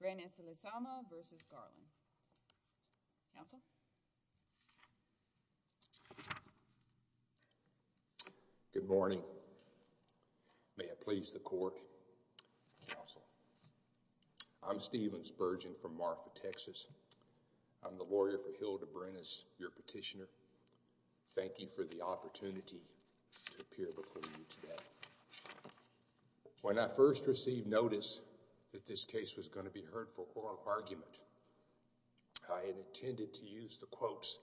Good morning. May it please the court, counsel. I'm Steven Spurgeon from Marfa, Texas. I'm the lawyer for Hilda Brenes, your petitioner. Thank you for the opportunity to appear before you today. When I first received notice that this case was going to be heard for oral argument, I had intended to use the quotes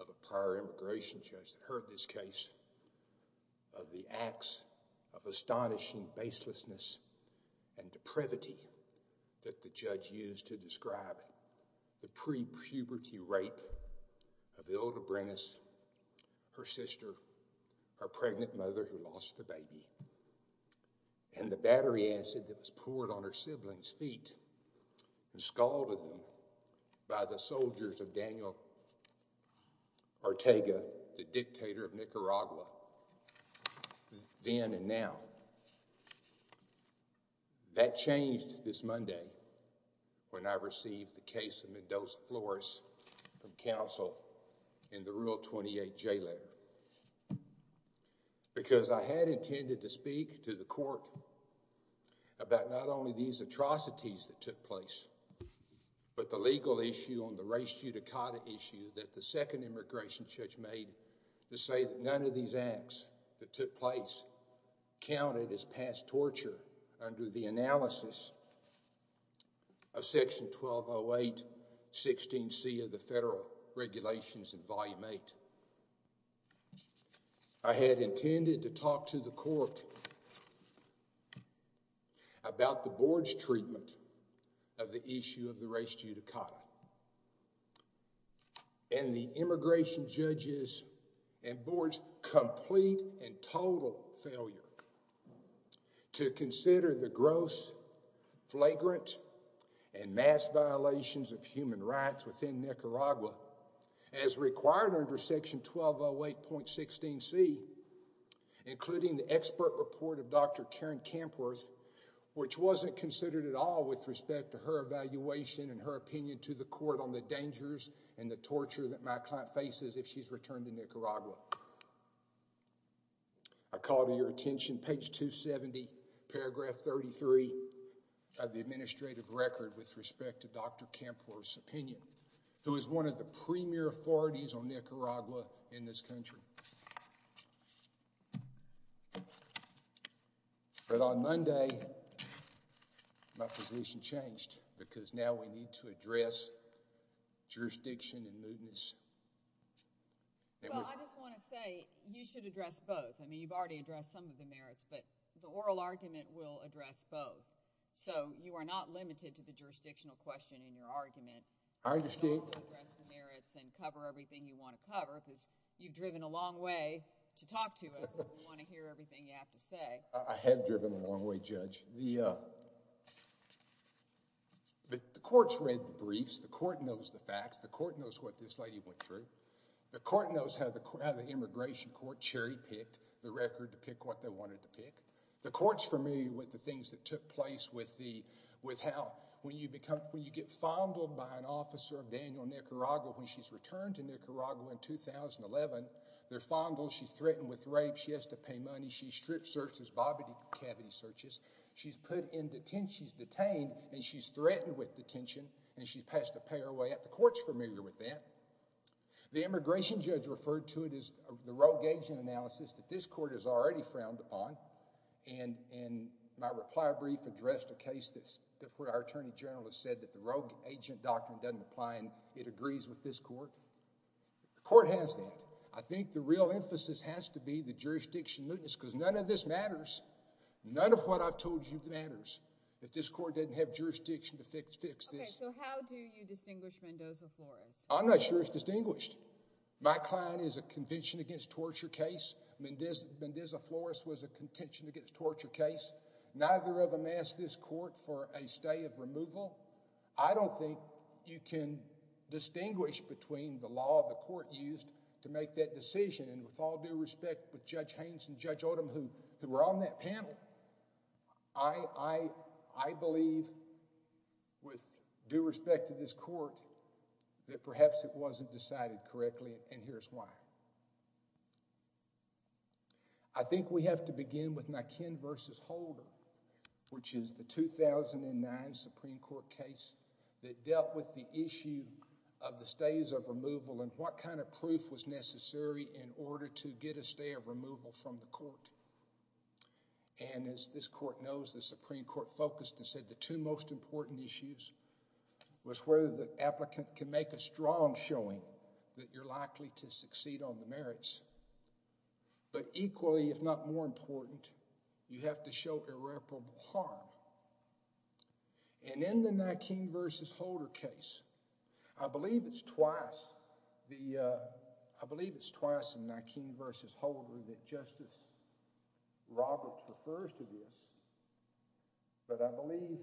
of a prior immigration judge that heard this case of the acts of astonishing baselessness and depravity that the judge used to describe the pre-puberty rape of Hilda Brenes, her sister, her pregnant mother who lost the baby, and the battery acid that was poured on her siblings' feet and scalded them by the soldiers of Daniel Ortega, the dictator of Nicaragua then and now. That changed this Monday when I received the case of Mendoza-Flores from counsel in the Rule 28 J letter because I had intended to speak to the court about not only these atrocities that took place but the legal issue on the res judicata issue that the second immigration judge made to say that none of these acts that the judge made were in violation of the federal regulations. I had intended to talk to the court about the board's treatment of the issue of the res judicata and the immigration judge's and board's complete and total failure to consider the gross flagrant and mass violations of human rights within Nicaragua as required under section 1208.16c including the expert report of Dr. Karen Kampworth which wasn't considered at all with respect to her evaluation and her opinion to the court on the dangers and the torture that my client faces if she's returned to Nicaragua. I call to your attention page 270 paragraph 33 of the administrative record with respect to Dr. Kampworth's opinion who is one of the premier authorities on Nicaragua in this country. But on Monday my position changed because now we need to address jurisdiction and movements. I just want to say you should address both. I mean you've already addressed some of the merits but the oral argument will address both so you are not limited to the jurisdictional question in your argument. I understand. Address the merits and cover everything you want to cover because you've driven a long way to talk to us. You want to hear everything you have to say. I have driven a long way judge. The uh but the court's read the briefs. The court knows the facts. The court knows what this lady went through. The court knows how the immigration court cherry-picked the record to pick what they wanted to pick. The court's familiar with the things that took place with the with how when you become when you get fondled by an officer of Daniel Nicaragua when she's returned to Nicaragua in 2011. They're fondled. She's threatened with rape. She has to pay money. She strip searches, bobbity cavity searches. She's put in detention. She's detained and she's threatened with detention and she's passed a pair away at the court's familiar with that. The immigration judge referred to it as the rogue agent analysis that this court has already frowned upon and and my reply brief addressed a case that's that's where our attorney general has the rogue agent doctrine doesn't apply and it agrees with this court. The court has that. I think the real emphasis has to be the jurisdiction. Because none of this matters. None of what I've told you matters. If this court didn't have jurisdiction to fix fix this. So how do you distinguish Mendoza-Flores? I'm not sure it's distinguished. My client is a convention against torture case. Mendoza-Flores was a contention against torture case. Neither of them asked this court for a stay of removal. I don't think you can distinguish between the law the court used to make that decision and with all due respect with Judge Haynes and Judge Odom who who were on that panel. I believe with due respect to this court that perhaps it wasn't decided correctly and here's why. I think we have to begin with Nikin versus Holder which is the 2009 Supreme Court case that dealt with the issue of the stays of removal and what kind of proof was necessary in order to get a stay of removal from the court and as this court knows the Supreme Court focused and said the two most important issues was whether the applicant can make a strong showing that you're likely to succeed on the merits but equally if not more important you have to show irreparable harm and in the Nikin versus Holder case I believe it's twice the uh I believe it's twice in Nikin versus Holder that Justice Roberts refers to this but I believe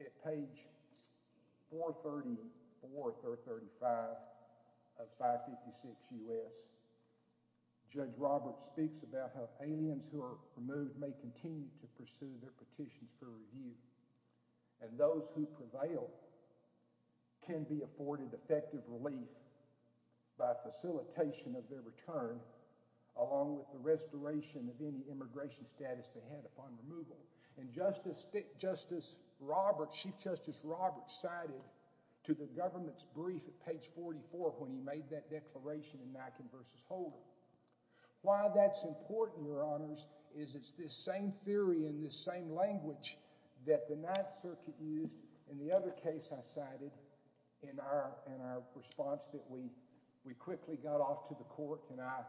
at page 434 or 335 of 556 U.S. Judge Roberts speaks about how aliens who are removed may continue to pursue their petitions for review and those who prevail can be afforded effective relief by facilitation of their return along with the restoration of any immigration status they had upon removal and Justice Roberts, Chief Justice Roberts cited to the government's brief at page 44 when he made that declaration in Nikin versus Holder. Why that's important your honors is it's this same theory in this same language that the Ninth Circuit used in the other case I cited in our in our response that we we quickly got off to the court and I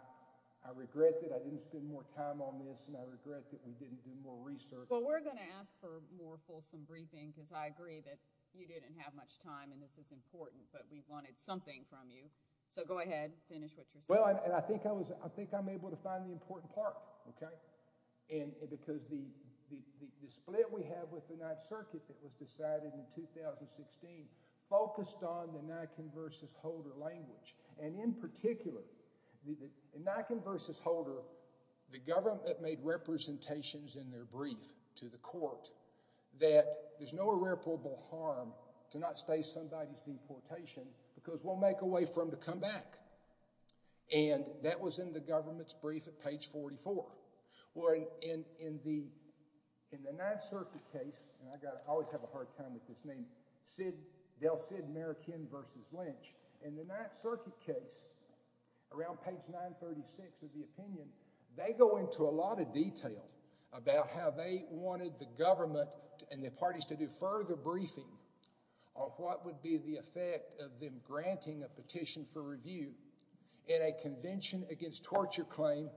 I regret that I didn't spend more time on this and I regret that we didn't do more research. Well we're going to ask for more fulsome briefing because I agree that you didn't have much time and this is important but we wanted something from you so go ahead finish what you're saying. Well and I think I was I think I'm able to find the important part okay and because the the the split we have with the Ninth Circuit that was decided in 2016 focused on the Nikin versus Holder language and in particular the Nikin versus Holder the government made representations in their brief to the court that there's no irreparable harm to not stay somebody's deportation because we'll make a way for them to come back and that was in the government's brief at page 44 well in in the in the Ninth Circuit case and I got I always have a hard time with this name Sid Delcid Merakin versus Lynch in the Ninth Circuit case around page 936 of the opinion they go into a lot of detail about how they wanted the government and the parties to do further briefing on what would be the effect of them granting a petition for review in a convention against torture claim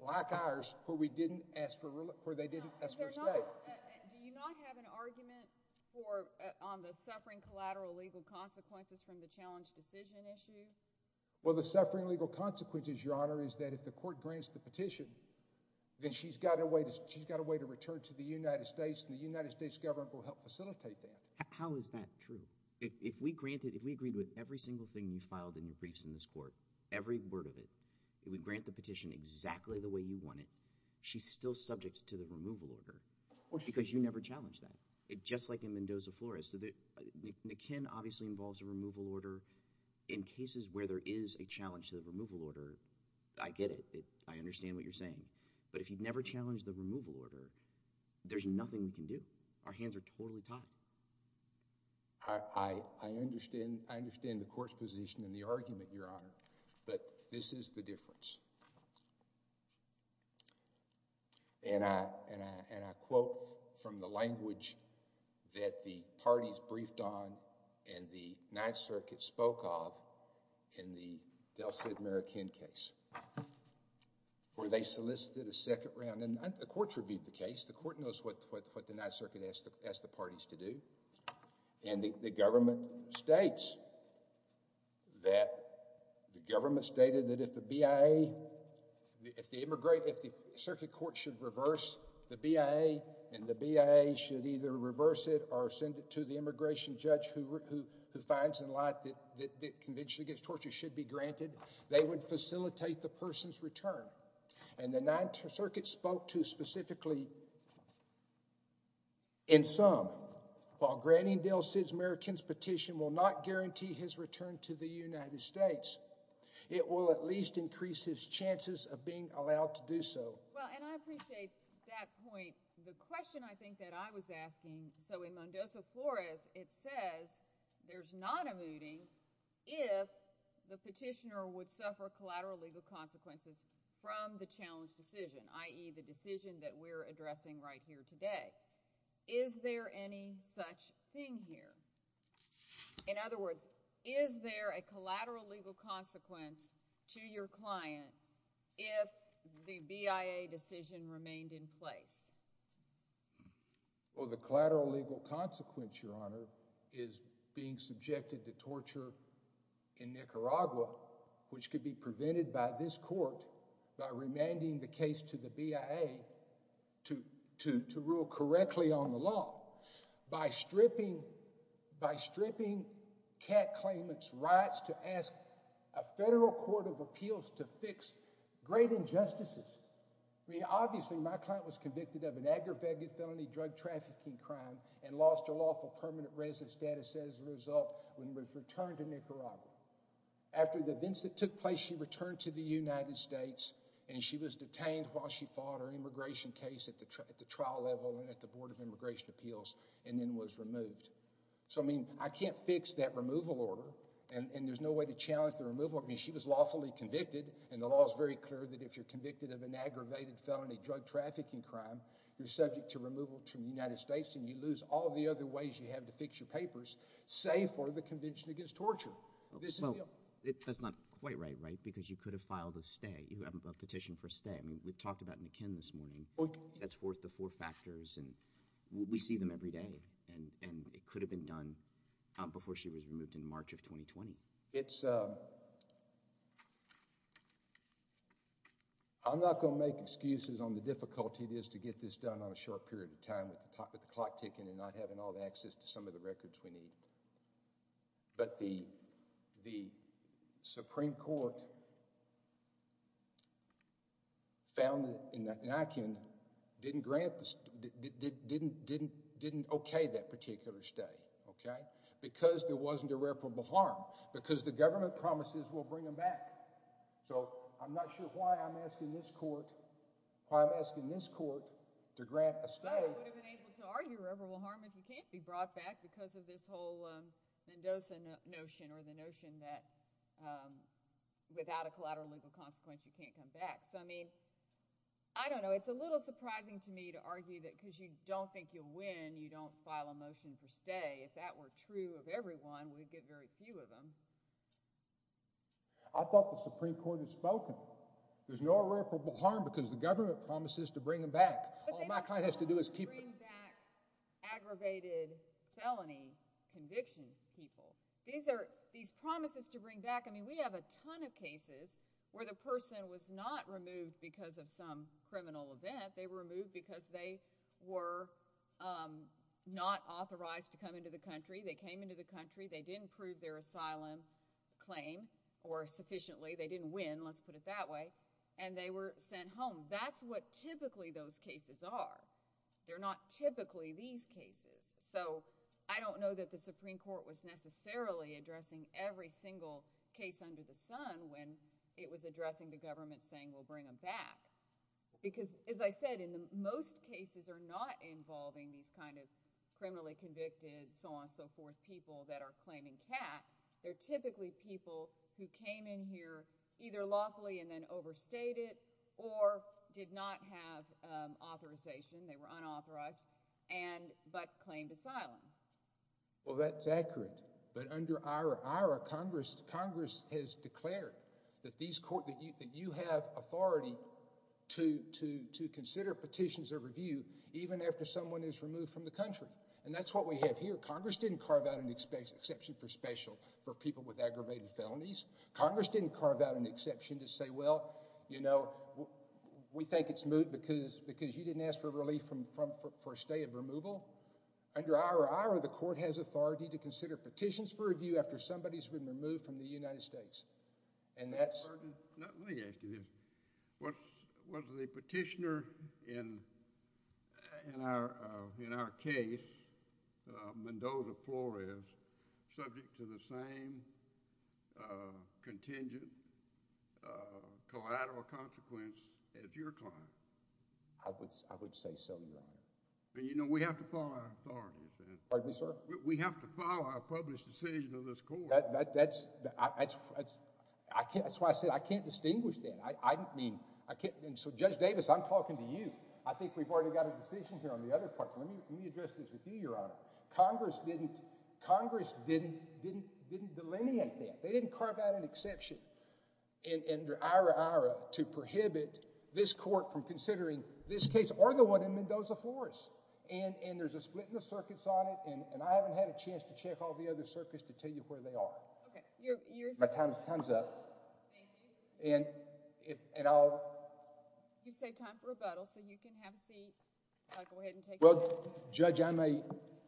like ours where we didn't ask for where they didn't ask for respect. Do you not have an argument for on the suffering collateral legal consequences from the challenge decision issue? Well the suffering legal consequences your honor is that if the court grants the petition then she's got a way to she's got a way to return to the United States and the United States government will help facilitate that. How is that true if we granted if we agreed with every word of it we grant the petition exactly the way you want it she's still subject to the removal order because you never challenged that it just like in Mendoza Flores so that McKinn obviously involves a removal order in cases where there is a challenge to the removal order I get it I understand what you're saying but if you've never challenged the removal order there's nothing we can do our hands are totally tied. I understand I understand the court's position and the argument your honor but this is the difference. And I and I and I quote from the language that the parties briefed on and the Ninth Circuit spoke of in the Delta American case where they solicited a second round and the courts reviewed the case the court knows what what the Ninth Circuit asked the parties to do and the government states that the government stated that if the BIA if the immigrant if the circuit court should reverse the BIA and the BIA should either reverse it or send it to the immigration judge who who who finds in light that that convention against torture should be granted they would facilitate the person's return and the Ninth Circuit spoke to specifically in some while Granningdale's American's petition will not guarantee his return to the United States it will at least increase his chances of being allowed to do so. Well and I appreciate that point the question I think that I was asking so in Mendoza Flores it says there's not a mooting if the petitioner would suffer collateral legal consequences from the challenge decision i.e. the addressing right here today is there any such thing here in other words is there a collateral legal consequence to your client if the BIA decision remained in place? Well the collateral legal consequence your honor is being subjected to torture in Nicaragua which could be prevented by this court by remanding the case to the BIA to to to rule correctly on the law by stripping by stripping cat claimant's rights to ask a federal court of appeals to fix great injustices I mean obviously my client was convicted of an aggravated felony drug trafficking crime and lost her lawful permanent resident status as a result when we've returned to Nicaragua after the events that took place she returned to the United States and she was detained while she fought her immigration case at the trial level and at the board of immigration appeals and then was removed so I mean I can't fix that removal order and and there's no way to challenge the removal I mean she was lawfully convicted and the law is very clear that if you're convicted of an aggravated felony drug trafficking crime you're subject to removal from the United States and you lose all the other ways you have to fix your papers save for the convention against torture this is it that's not quite right right because you could have filed a stay you have a petition for stay I mean we've talked about mckinn this morning that's worth the four factors and we see them every day and and it could have been done before she was removed in March of 2020. It's um I'm not going to make excuses on the difficulty it is to get this done on a short period of time with the clock ticking and not having all the access to some of the records we need but the the Supreme Court found in that Nican didn't grant this didn't didn't didn't okay that particular stay okay because there wasn't a reputable harm because the government promises we'll bring them back so I'm not sure why I'm asking this court why I'm asking this court to grant a stay reputable harm if you can't be brought back because of this whole Mendoza notion or the notion that without a collateral legal consequence you can't come back so I mean I don't know it's a little surprising to me to argue that because you don't think you'll win you don't file a motion for stay if that were true of everyone we'd get very few of them. I thought the Supreme Court had spoken there's no reputable harm because the government promises to bring them back all my client has to do is keep bringing back aggravated felony conviction people these are these promises to bring back I mean we have a ton of cases where the person was not removed because of some criminal event they were removed because they were um not authorized to come into the country they came into the country they didn't prove their asylum claim or sufficiently they didn't win let's put it that way and they were sent home that's what typically those cases are they're not typically these cases so I don't know that the Supreme Court was necessarily addressing every single case under the sun when it was addressing the government saying we'll bring them back because as I said in the most cases are not involving these kind of criminally convicted so on so forth people that are claiming cat they're typically people who came in here either lawfully and then overstated or did not have um authorization they were unauthorized and but claimed asylum well that's accurate but under our IRA congress congress has declared that these court that you that you have authority to to to consider petitions of review even after someone is removed from the country and that's what we have here congress didn't carve out an exception for special for people with aggravated felonies congress didn't carve out an exception to say well you know we think it's moot because because you didn't ask for relief from from for a stay of removal under our IRA the court has authority to consider petitions for review after somebody's been removed from the United States and that's let me ask you this what was the petitioner in in our uh in our case uh Mendoza Flores subject to the same uh contingent uh collateral consequence as your client I would I would say so you know we have to follow our authorities pardon me sir we have to follow our published decision of this that's that's I can't that's why I said I can't distinguish that I don't mean I can't and so Judge Davis I'm talking to you I think we've already got a decision here on the other part let me let me address this with you your honor congress didn't congress didn't didn't didn't delineate that they didn't carve out an exception and under our IRA to prohibit this court from considering this case or the one in Mendoza Flores and and there's a split in the circuits on it and and I haven't had a chance to check all the other circuits to tell you where they are okay your time's up and if and I'll you save time for rebuttal so you can have a seat I'll go ahead and take well judge I may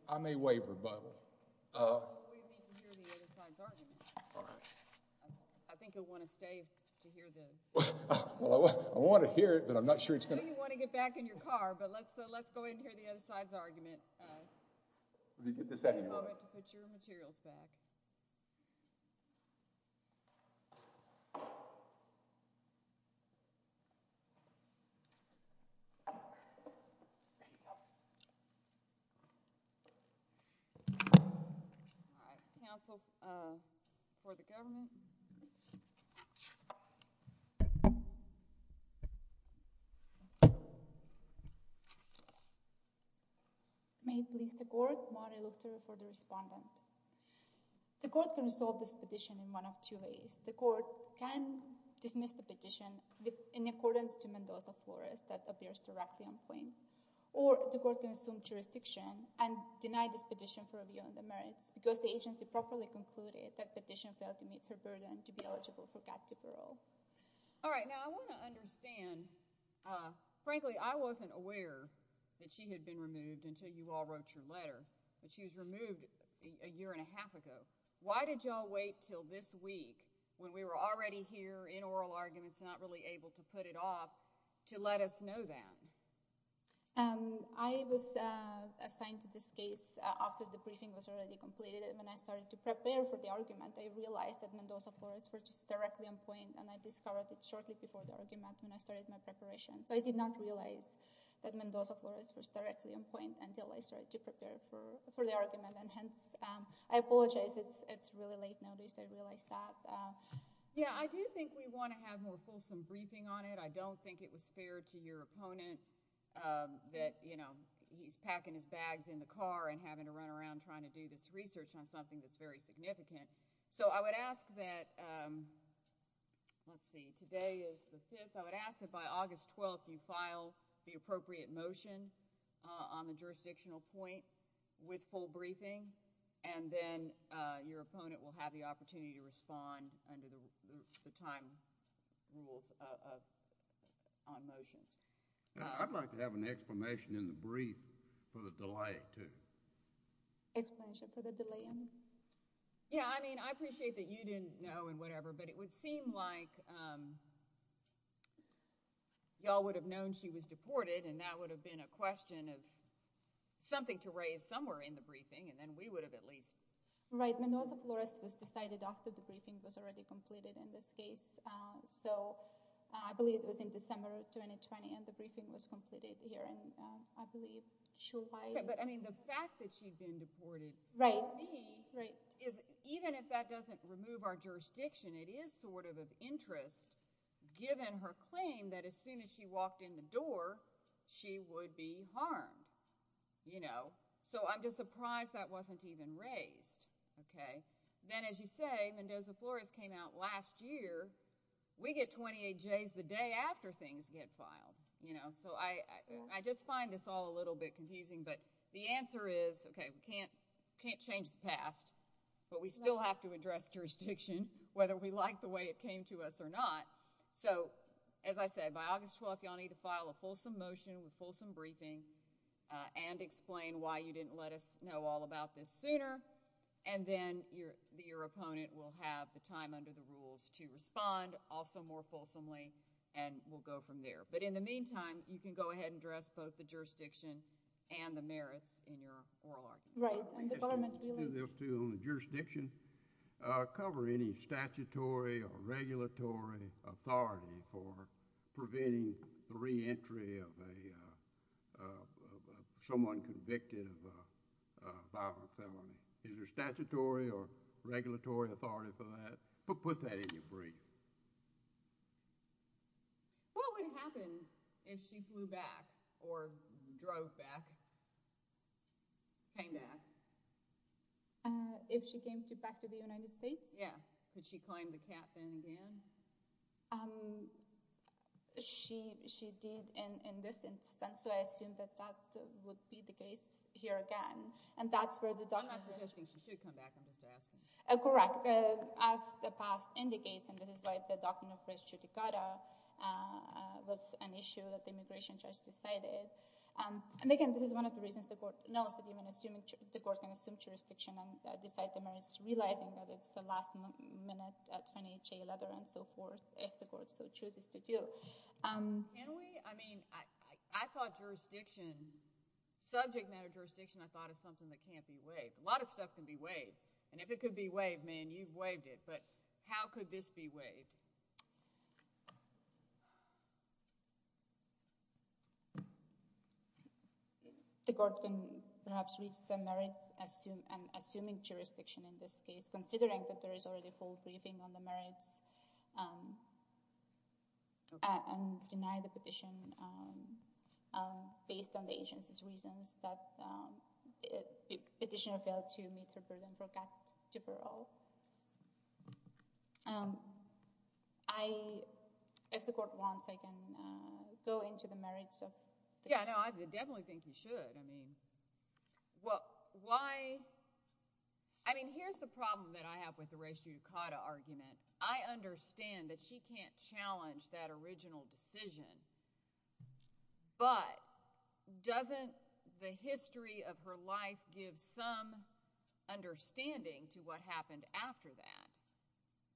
I may waive rebuttal uh I think you'll want to stay to hear this well I want to hear it but I'm not sure it's gonna you want to get back in your car but let's let's go ahead and hear the other side's argument let me get the second moment to put your materials back all right counsel uh for the government may please the court while I look for the respondent the court can resolve this petition in one of two ways the court can dismiss the petition with in accordance to Mendoza Flores that appears to Raxion Quinn or the court can assume jurisdiction and deny this petition for reviewing the merits because the agency properly concluded that petition failed to meet her burden to be eligible for captive parole all right now I want to understand uh frankly I wasn't aware that she had been removed until you all wrote your letter and she was removed a year and a half ago why did y'all wait till this week when we were already here in oral arguments not really able to put it off to let us know that um I was uh assigned to this case after the briefing was already completed and when I started to prepare for the argument I realized that Mendoza Flores were just directly on point and I discovered it shortly before the argument when I started my so I did not realize that Mendoza Flores was directly on point until I started to prepare for for the argument and hence um I apologize it's it's really late notice I realized that yeah I do think we want to have more fulsome briefing on it I don't think it was fair to your opponent um that you know he's packing his bags in the car and having to run around trying to do this research on something that's very significant so I would ask that um let's 12th you file the appropriate motion on the jurisdictional point with full briefing and then uh your opponent will have the opportunity to respond under the time rules on motions I'd like to have an explanation in the brief for the delay too explanation for the delay yeah I mean I appreciate that you didn't know and whatever but it would like um y'all would have known she was deported and that would have been a question of something to raise somewhere in the briefing and then we would have at least right Mendoza Flores was decided after the briefing was already completed in this case so I believe it was in December 2020 and the briefing was completed here and I believe she'll buy it but I mean the fact that she'd been of interest given her claim that as soon as she walked in the door she would be harmed you know so I'm just surprised that wasn't even raised okay then as you say Mendoza Flores came out last year we get 28 jays the day after things get filed you know so I I just find this all a little bit confusing but the answer is okay we can't can't change the past but we still have to address jurisdiction whether we like the way it came to us or not so as I said by August 12th y'all need to file a fulsome motion with fulsome briefing and explain why you didn't let us know all about this sooner and then your your opponent will have the time under the rules to respond also more fulsomely and we'll go from there but in the meantime you can go ahead and address both the cover any statutory or regulatory authority for preventing the re-entry of a someone convicted of a violent felony is there statutory or regulatory authority for that but put that in your brief what would happen if she flew back or drove back kind of if she came to back to the United States yeah could she climb the cap then again um she she did in in this instance so I assume that that would be the case here again and that's where the document she should come back I'm just asking uh correct uh as the past indicates and this is why the document was an issue that the immigration judge decided um and again this is one of the reasons the court knows that even assuming the court can assume jurisdiction and decide the marriage realizing that it's the last minute at 28 jail other and so forth if the court so chooses to do um can we I mean I I thought jurisdiction subject matter jurisdiction I thought is something that can't be waived a lot of stuff can be waived and if it could be waived but how could this be waived the court can perhaps reach the merits assume and assuming jurisdiction in this case considering that there is already full briefing on the merits um and deny the petition um um based on the um I if the court wants I can uh go into the merits of yeah I know I definitely think you should I mean well why I mean here's the problem that I have with the ratio ducata argument I understand that she can't challenge that original decision but doesn't the history of her life give some understanding to what happened after that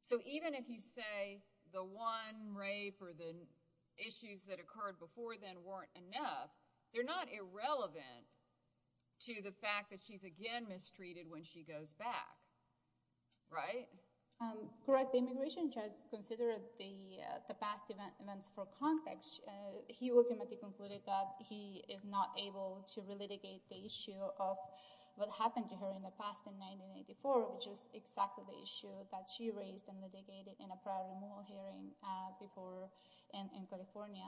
so even if you say the one rape or the issues that occurred before then weren't enough they're not irrelevant to the fact that she's again mistreated when she goes back right um correct the immigration judge considered the the past events for context he ultimately concluded that he is not able to relitigate the of what happened to her in the past in 1984 which is exactly the issue that she raised and litigated in a prior removal hearing uh before in in california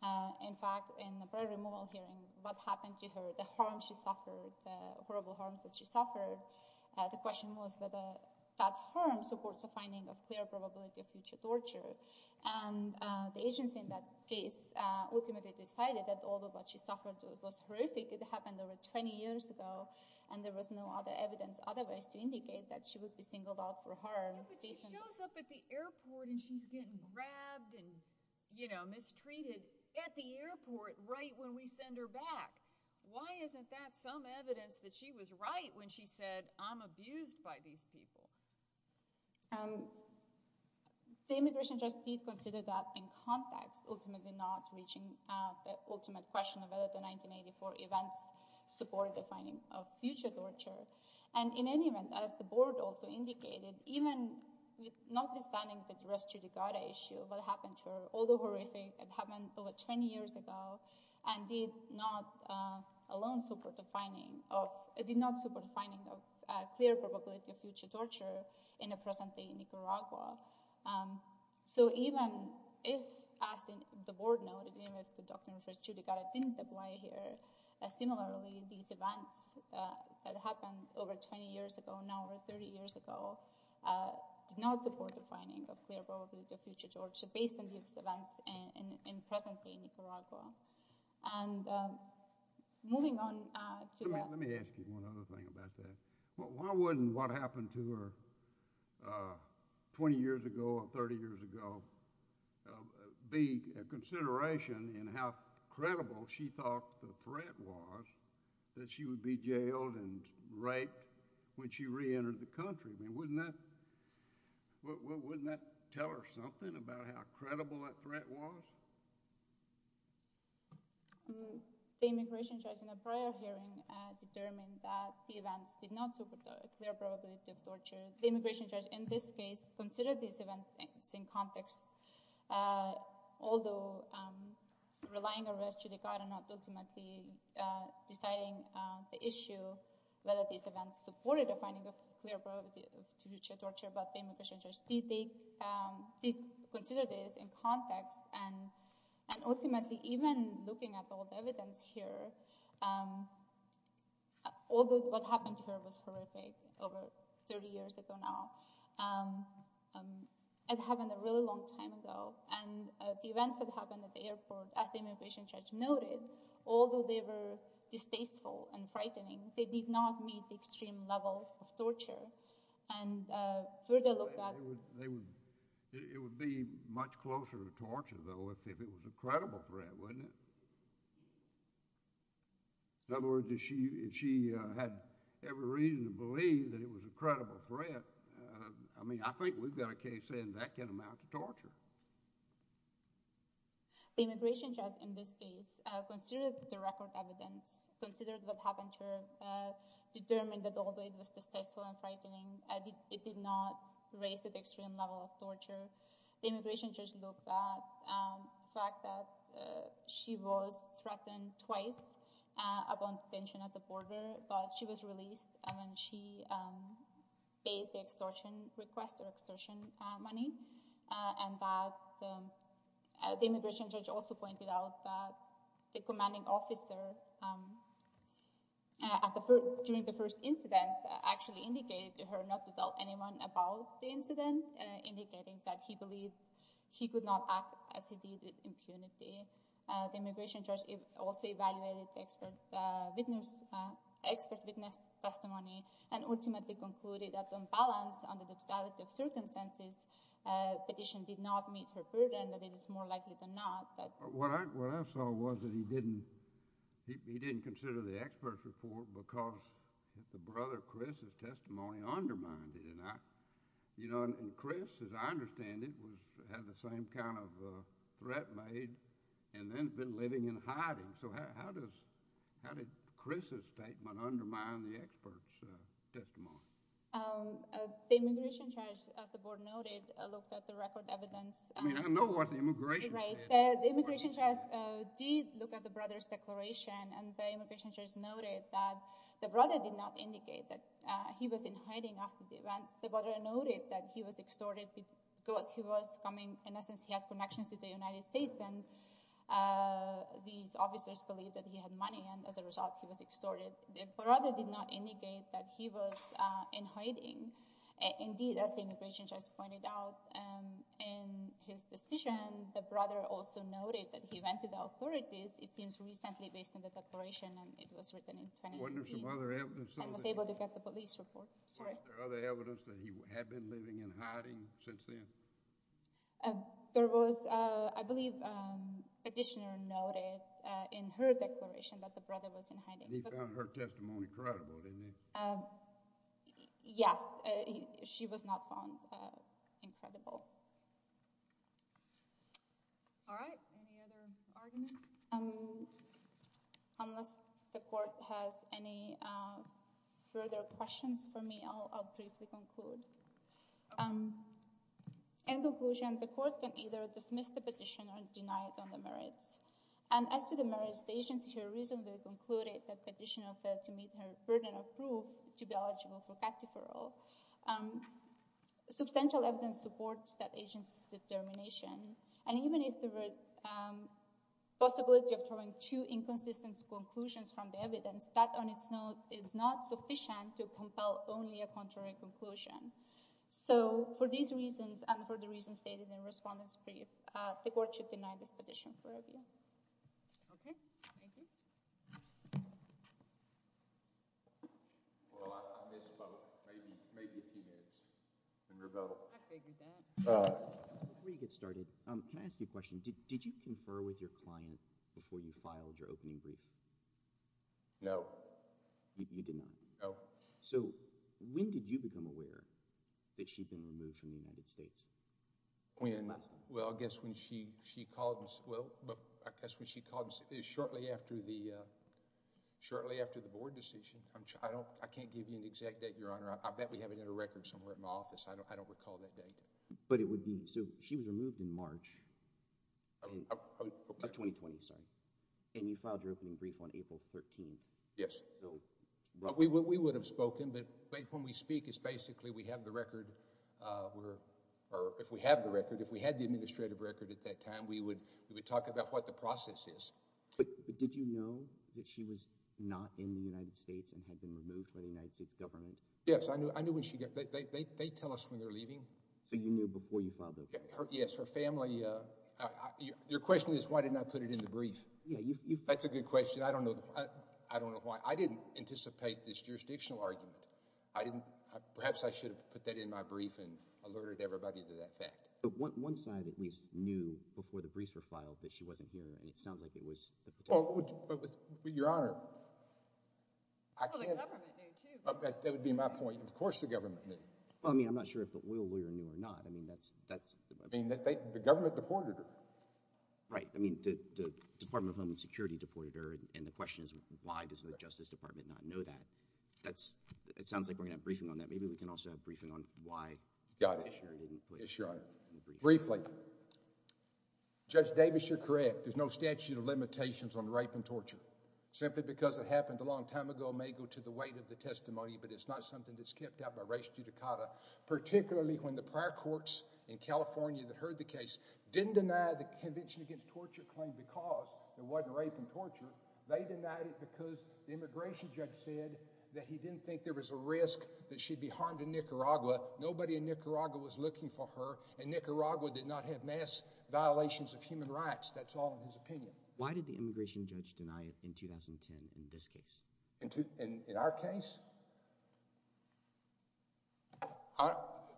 uh in fact in the prior removal hearing what happened to her the harm she suffered the horrible harm that she suffered the question was whether that harm supports a finding of clear probability of future torture and the agency in that case ultimately decided that all the what she suffered to it was horrific it happened over 20 years ago and there was no other evidence otherwise to indicate that she would be singled out for her but she shows up at the airport and she's getting grabbed and you know mistreated at the airport right when we send her back why isn't that some evidence that she was right when she said i'm abused by these people um the immigration just did consider that in context ultimately not reaching uh the ultimate question of whether the 1984 events support the finding of future torture and in any event as the board also indicated even with notwithstanding the dress judicata issue what happened to her although horrific it happened over 20 years ago and did not uh alone support the finding of it did not support the finding of a clear probability of nicaragua um so even if asking the board noted even with the document for judicata didn't apply here similarly these events that happened over 20 years ago now over 30 years ago uh did not support the finding of clear probability of future torture based on these events and in presently nicaragua and um moving on uh let me ask you one other thing about that why wouldn't what happened to her uh 20 years ago or 30 years ago be a consideration in how credible she thought the threat was that she would be jailed and raped when she re-entered the country i mean wouldn't that wouldn't that tell her something about how credible that threat was um the immigration judge in a prior hearing uh determined that the events did not support their probability of torture the immigration judge in this case considered these events in context uh although um relying arrest judicata not ultimately uh deciding the issue whether these events supported the finding of clear probability of future torture but the even looking at all the evidence here um although what happened here was horrific over 30 years ago now um um it happened a really long time ago and the events that happened at the airport as the immigration judge noted although they were distasteful and frightening they did not meet the extreme level of torture and uh further look at they would it would be much closer to torture though if it was a credible threat wouldn't it in other words did she if she uh had every reason to believe that it was a credible threat i mean i think we've got a case saying that can amount to torture the immigration judge in this case uh considered the record evidence considered what happened here determined that although it was distasteful and frightening it did not raise the extreme level of torture the immigration judge looked at the fact that she was threatened twice upon detention at the border but she was released when she paid the extortion request or extortion money and that the immigration judge also pointed out that the commanding officer at the during the first incident actually indicated to her not to tell anyone about the incident indicating that he believed he could not act as he did with impunity the immigration judge also evaluated the expert witness expert witness testimony and ultimately concluded that on balance under the fatality of circumstances petition did not meet her burden that it is more likely than not that what i what i saw was that he didn't he didn't consider the you know and chris as i understand it was had the same kind of uh threat made and then been living in hiding so how does how did chris's statement undermine the experts uh testimony the immigration judge as the board noted looked at the record evidence i mean i know what the immigration right the immigration judge did look at the brother's declaration and the immigration judge noted that the brother did not indicate that uh he was in hiding after the events the noted that he was extorted because he was coming in essence he had connections to the united states and uh these officers believed that he had money and as a result he was extorted the brother did not indicate that he was uh in hiding indeed as the immigration judge pointed out um in his decision the brother also noted that he went to the authorities it seems recently based on the declaration and it was written in 20 other evidence i was able to get the police report sorry other evidence that he had been living in hiding since then um there was uh i believe um petitioner noted uh in her declaration that the brother was in hiding he found her testimony credible didn't he um yes she was not found uh incredible all right any other arguments um the court has any uh further questions for me i'll briefly conclude in conclusion the court can either dismiss the petition or deny it on the merits and as to the merits the agency here reasonably concluded that petitioner failed to meet her burden of proof to be eligible for captive parole um substantial evidence supports that agency's evidence that on its own is not sufficient to compel only a contrary conclusion so for these reasons and for the reasons stated in respondent's brief uh the court should deny this petition okay thank you well i missed about maybe maybe a few minutes and rebel i figured that uh before you get started um can i ask you a question did did you confer with your client before you filed your opening brief no you did not oh so when did you become aware that she'd been removed from the united states when well i guess when she she called us well i guess when she called shortly after the uh shortly after the board decision i'm i don't i can't give you an exact date your honor i bet we have it in a record somewhere in my office i don't i don't recall that date but it would be so she was removed in march 2020 sorry and you filed your opening brief on april 13th yes well we would we would have spoken but when we speak it's basically we have the record uh we're or if we have the record if we had the administrative record at that time we would we would talk about what the process is but did you know that she was not in the united states and had been removed by the united states yes i knew i knew when she got they tell us when they're leaving so you knew before you filed her yes her family uh your question is why didn't i put it in the brief yeah that's a good question i don't know i don't know why i didn't anticipate this jurisdictional argument i didn't perhaps i should have put that in my brief and alerted everybody to that fact but what one side at least knew before the briefs were filed that she wasn't here and it sounds like it was oh but your honor i can't that would be my point of course the government knew well i mean i'm not sure if it will we renew or not i mean that's that's i mean the government deported her right i mean the department of home security deported her and the question is why does the justice department not know that that's it sounds like we're gonna have briefing on that maybe we can also have briefing on why got it sure briefly judge davis you're correct there's no statute of limitations on rape and torture simply because it happened a long time ago may go to the weight of the testimony but it's not something that's kept out by race judicata particularly when the prior courts in california that heard the case didn't deny the convention against torture claim because there wasn't rape and torture they denied it because the immigration judge said that he didn't think there was a risk that she'd be harmed in nicaragua nobody in nicaragua was looking for and nicaragua did not have mass violations of human rights that's all in his opinion why did the immigration judge deny it in 2010 in this case into in our case i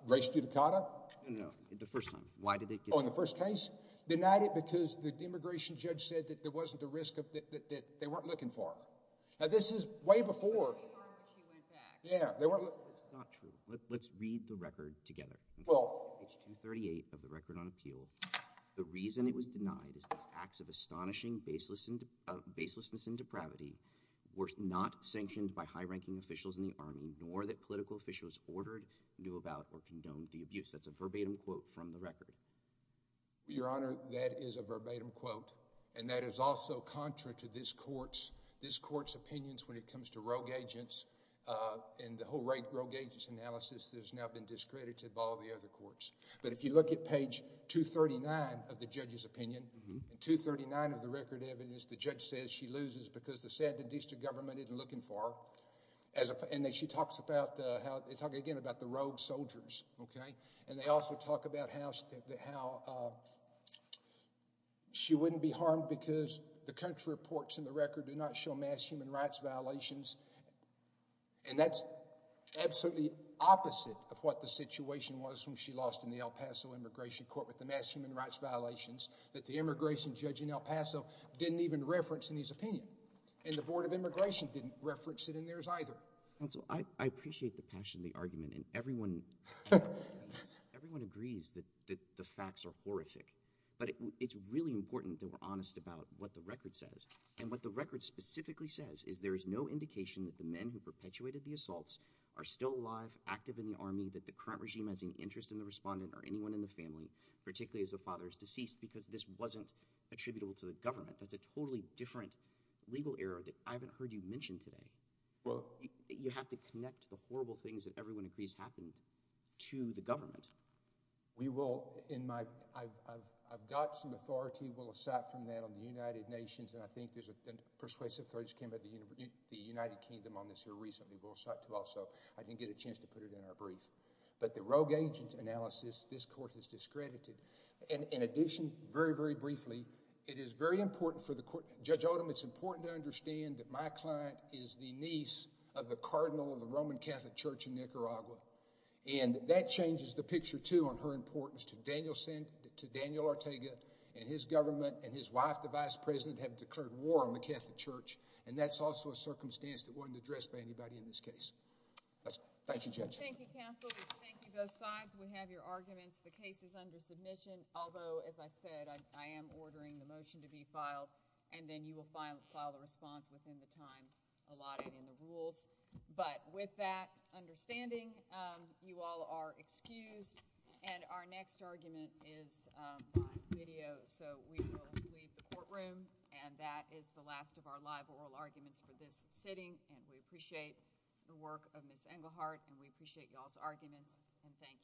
race judicata no no the first time why did they go in the first case denied it because the immigration judge said that there wasn't a risk of that they weren't looking for now this is way before she went back yeah they were it's not true let's read the record together well h2 38 of the record on appeal the reason it was denied is that acts of astonishing baseless and baselessness and depravity were not sanctioned by high-ranking officials in the army nor that political officials ordered knew about or condoned the abuse that's a verbatim quote from the record your honor that is a verbatim quote and that is also contrary to this court's this court's to rogue agents uh and the whole rate rogue agents analysis has now been discredited by all the other courts but if you look at page 239 of the judge's opinion and 239 of the record evidence the judge says she loses because the saddened district government isn't looking for her as a and then she talks about uh how they talk again about the rogue soldiers okay and they also talk about how how uh she wouldn't be harmed because the country reports in the record do not show human rights violations and that's absolutely opposite of what the situation was when she lost in the el paso immigration court with the mass human rights violations that the immigration judge in el paso didn't even reference in his opinion and the board of immigration didn't reference it in theirs either and so i i appreciate the passion the argument and everyone everyone agrees that that the facts are horrific but it's really important that we're honest about what the record says and what the record specifically says is there is no indication that the men who perpetuated the assaults are still alive active in the army that the current regime has any interest in the respondent or anyone in the family particularly as the father is deceased because this wasn't attributable to the government that's a totally different legal error that i haven't heard you mentioned today well you have to connect the horrible things that everyone agrees happened to the government we will in my i've i've got some authority will aside from that on the united nations and i think there's a persuasive threat came by the united kingdom on this here recently we'll start to also i didn't get a chance to put it in our brief but the rogue agent analysis this court has discredited and in addition very very briefly it is very important for the court judge odom it's important to understand that my client is the niece of the cardinal of the roman catholic church in nicaragua and that changes the picture too on her importance to daniel sent to daniel ortega and his government and his wife the vice president have declared war on the catholic church and that's also a circumstance that wasn't addressed by anybody in this case that's thank you judge thank you counsel thank you both sides we have your arguments the case is under submission although as i said i am ordering the motion to be filed and then you will file file the response within the time allotted in the rules but with that understanding um you all are excused and our next argument is my video so we will leave the courtroom and that is the last of our live oral arguments for this sitting and we appreciate the work of miss engelhardt and we appreciate y'all's arguments and thank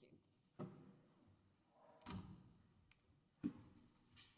you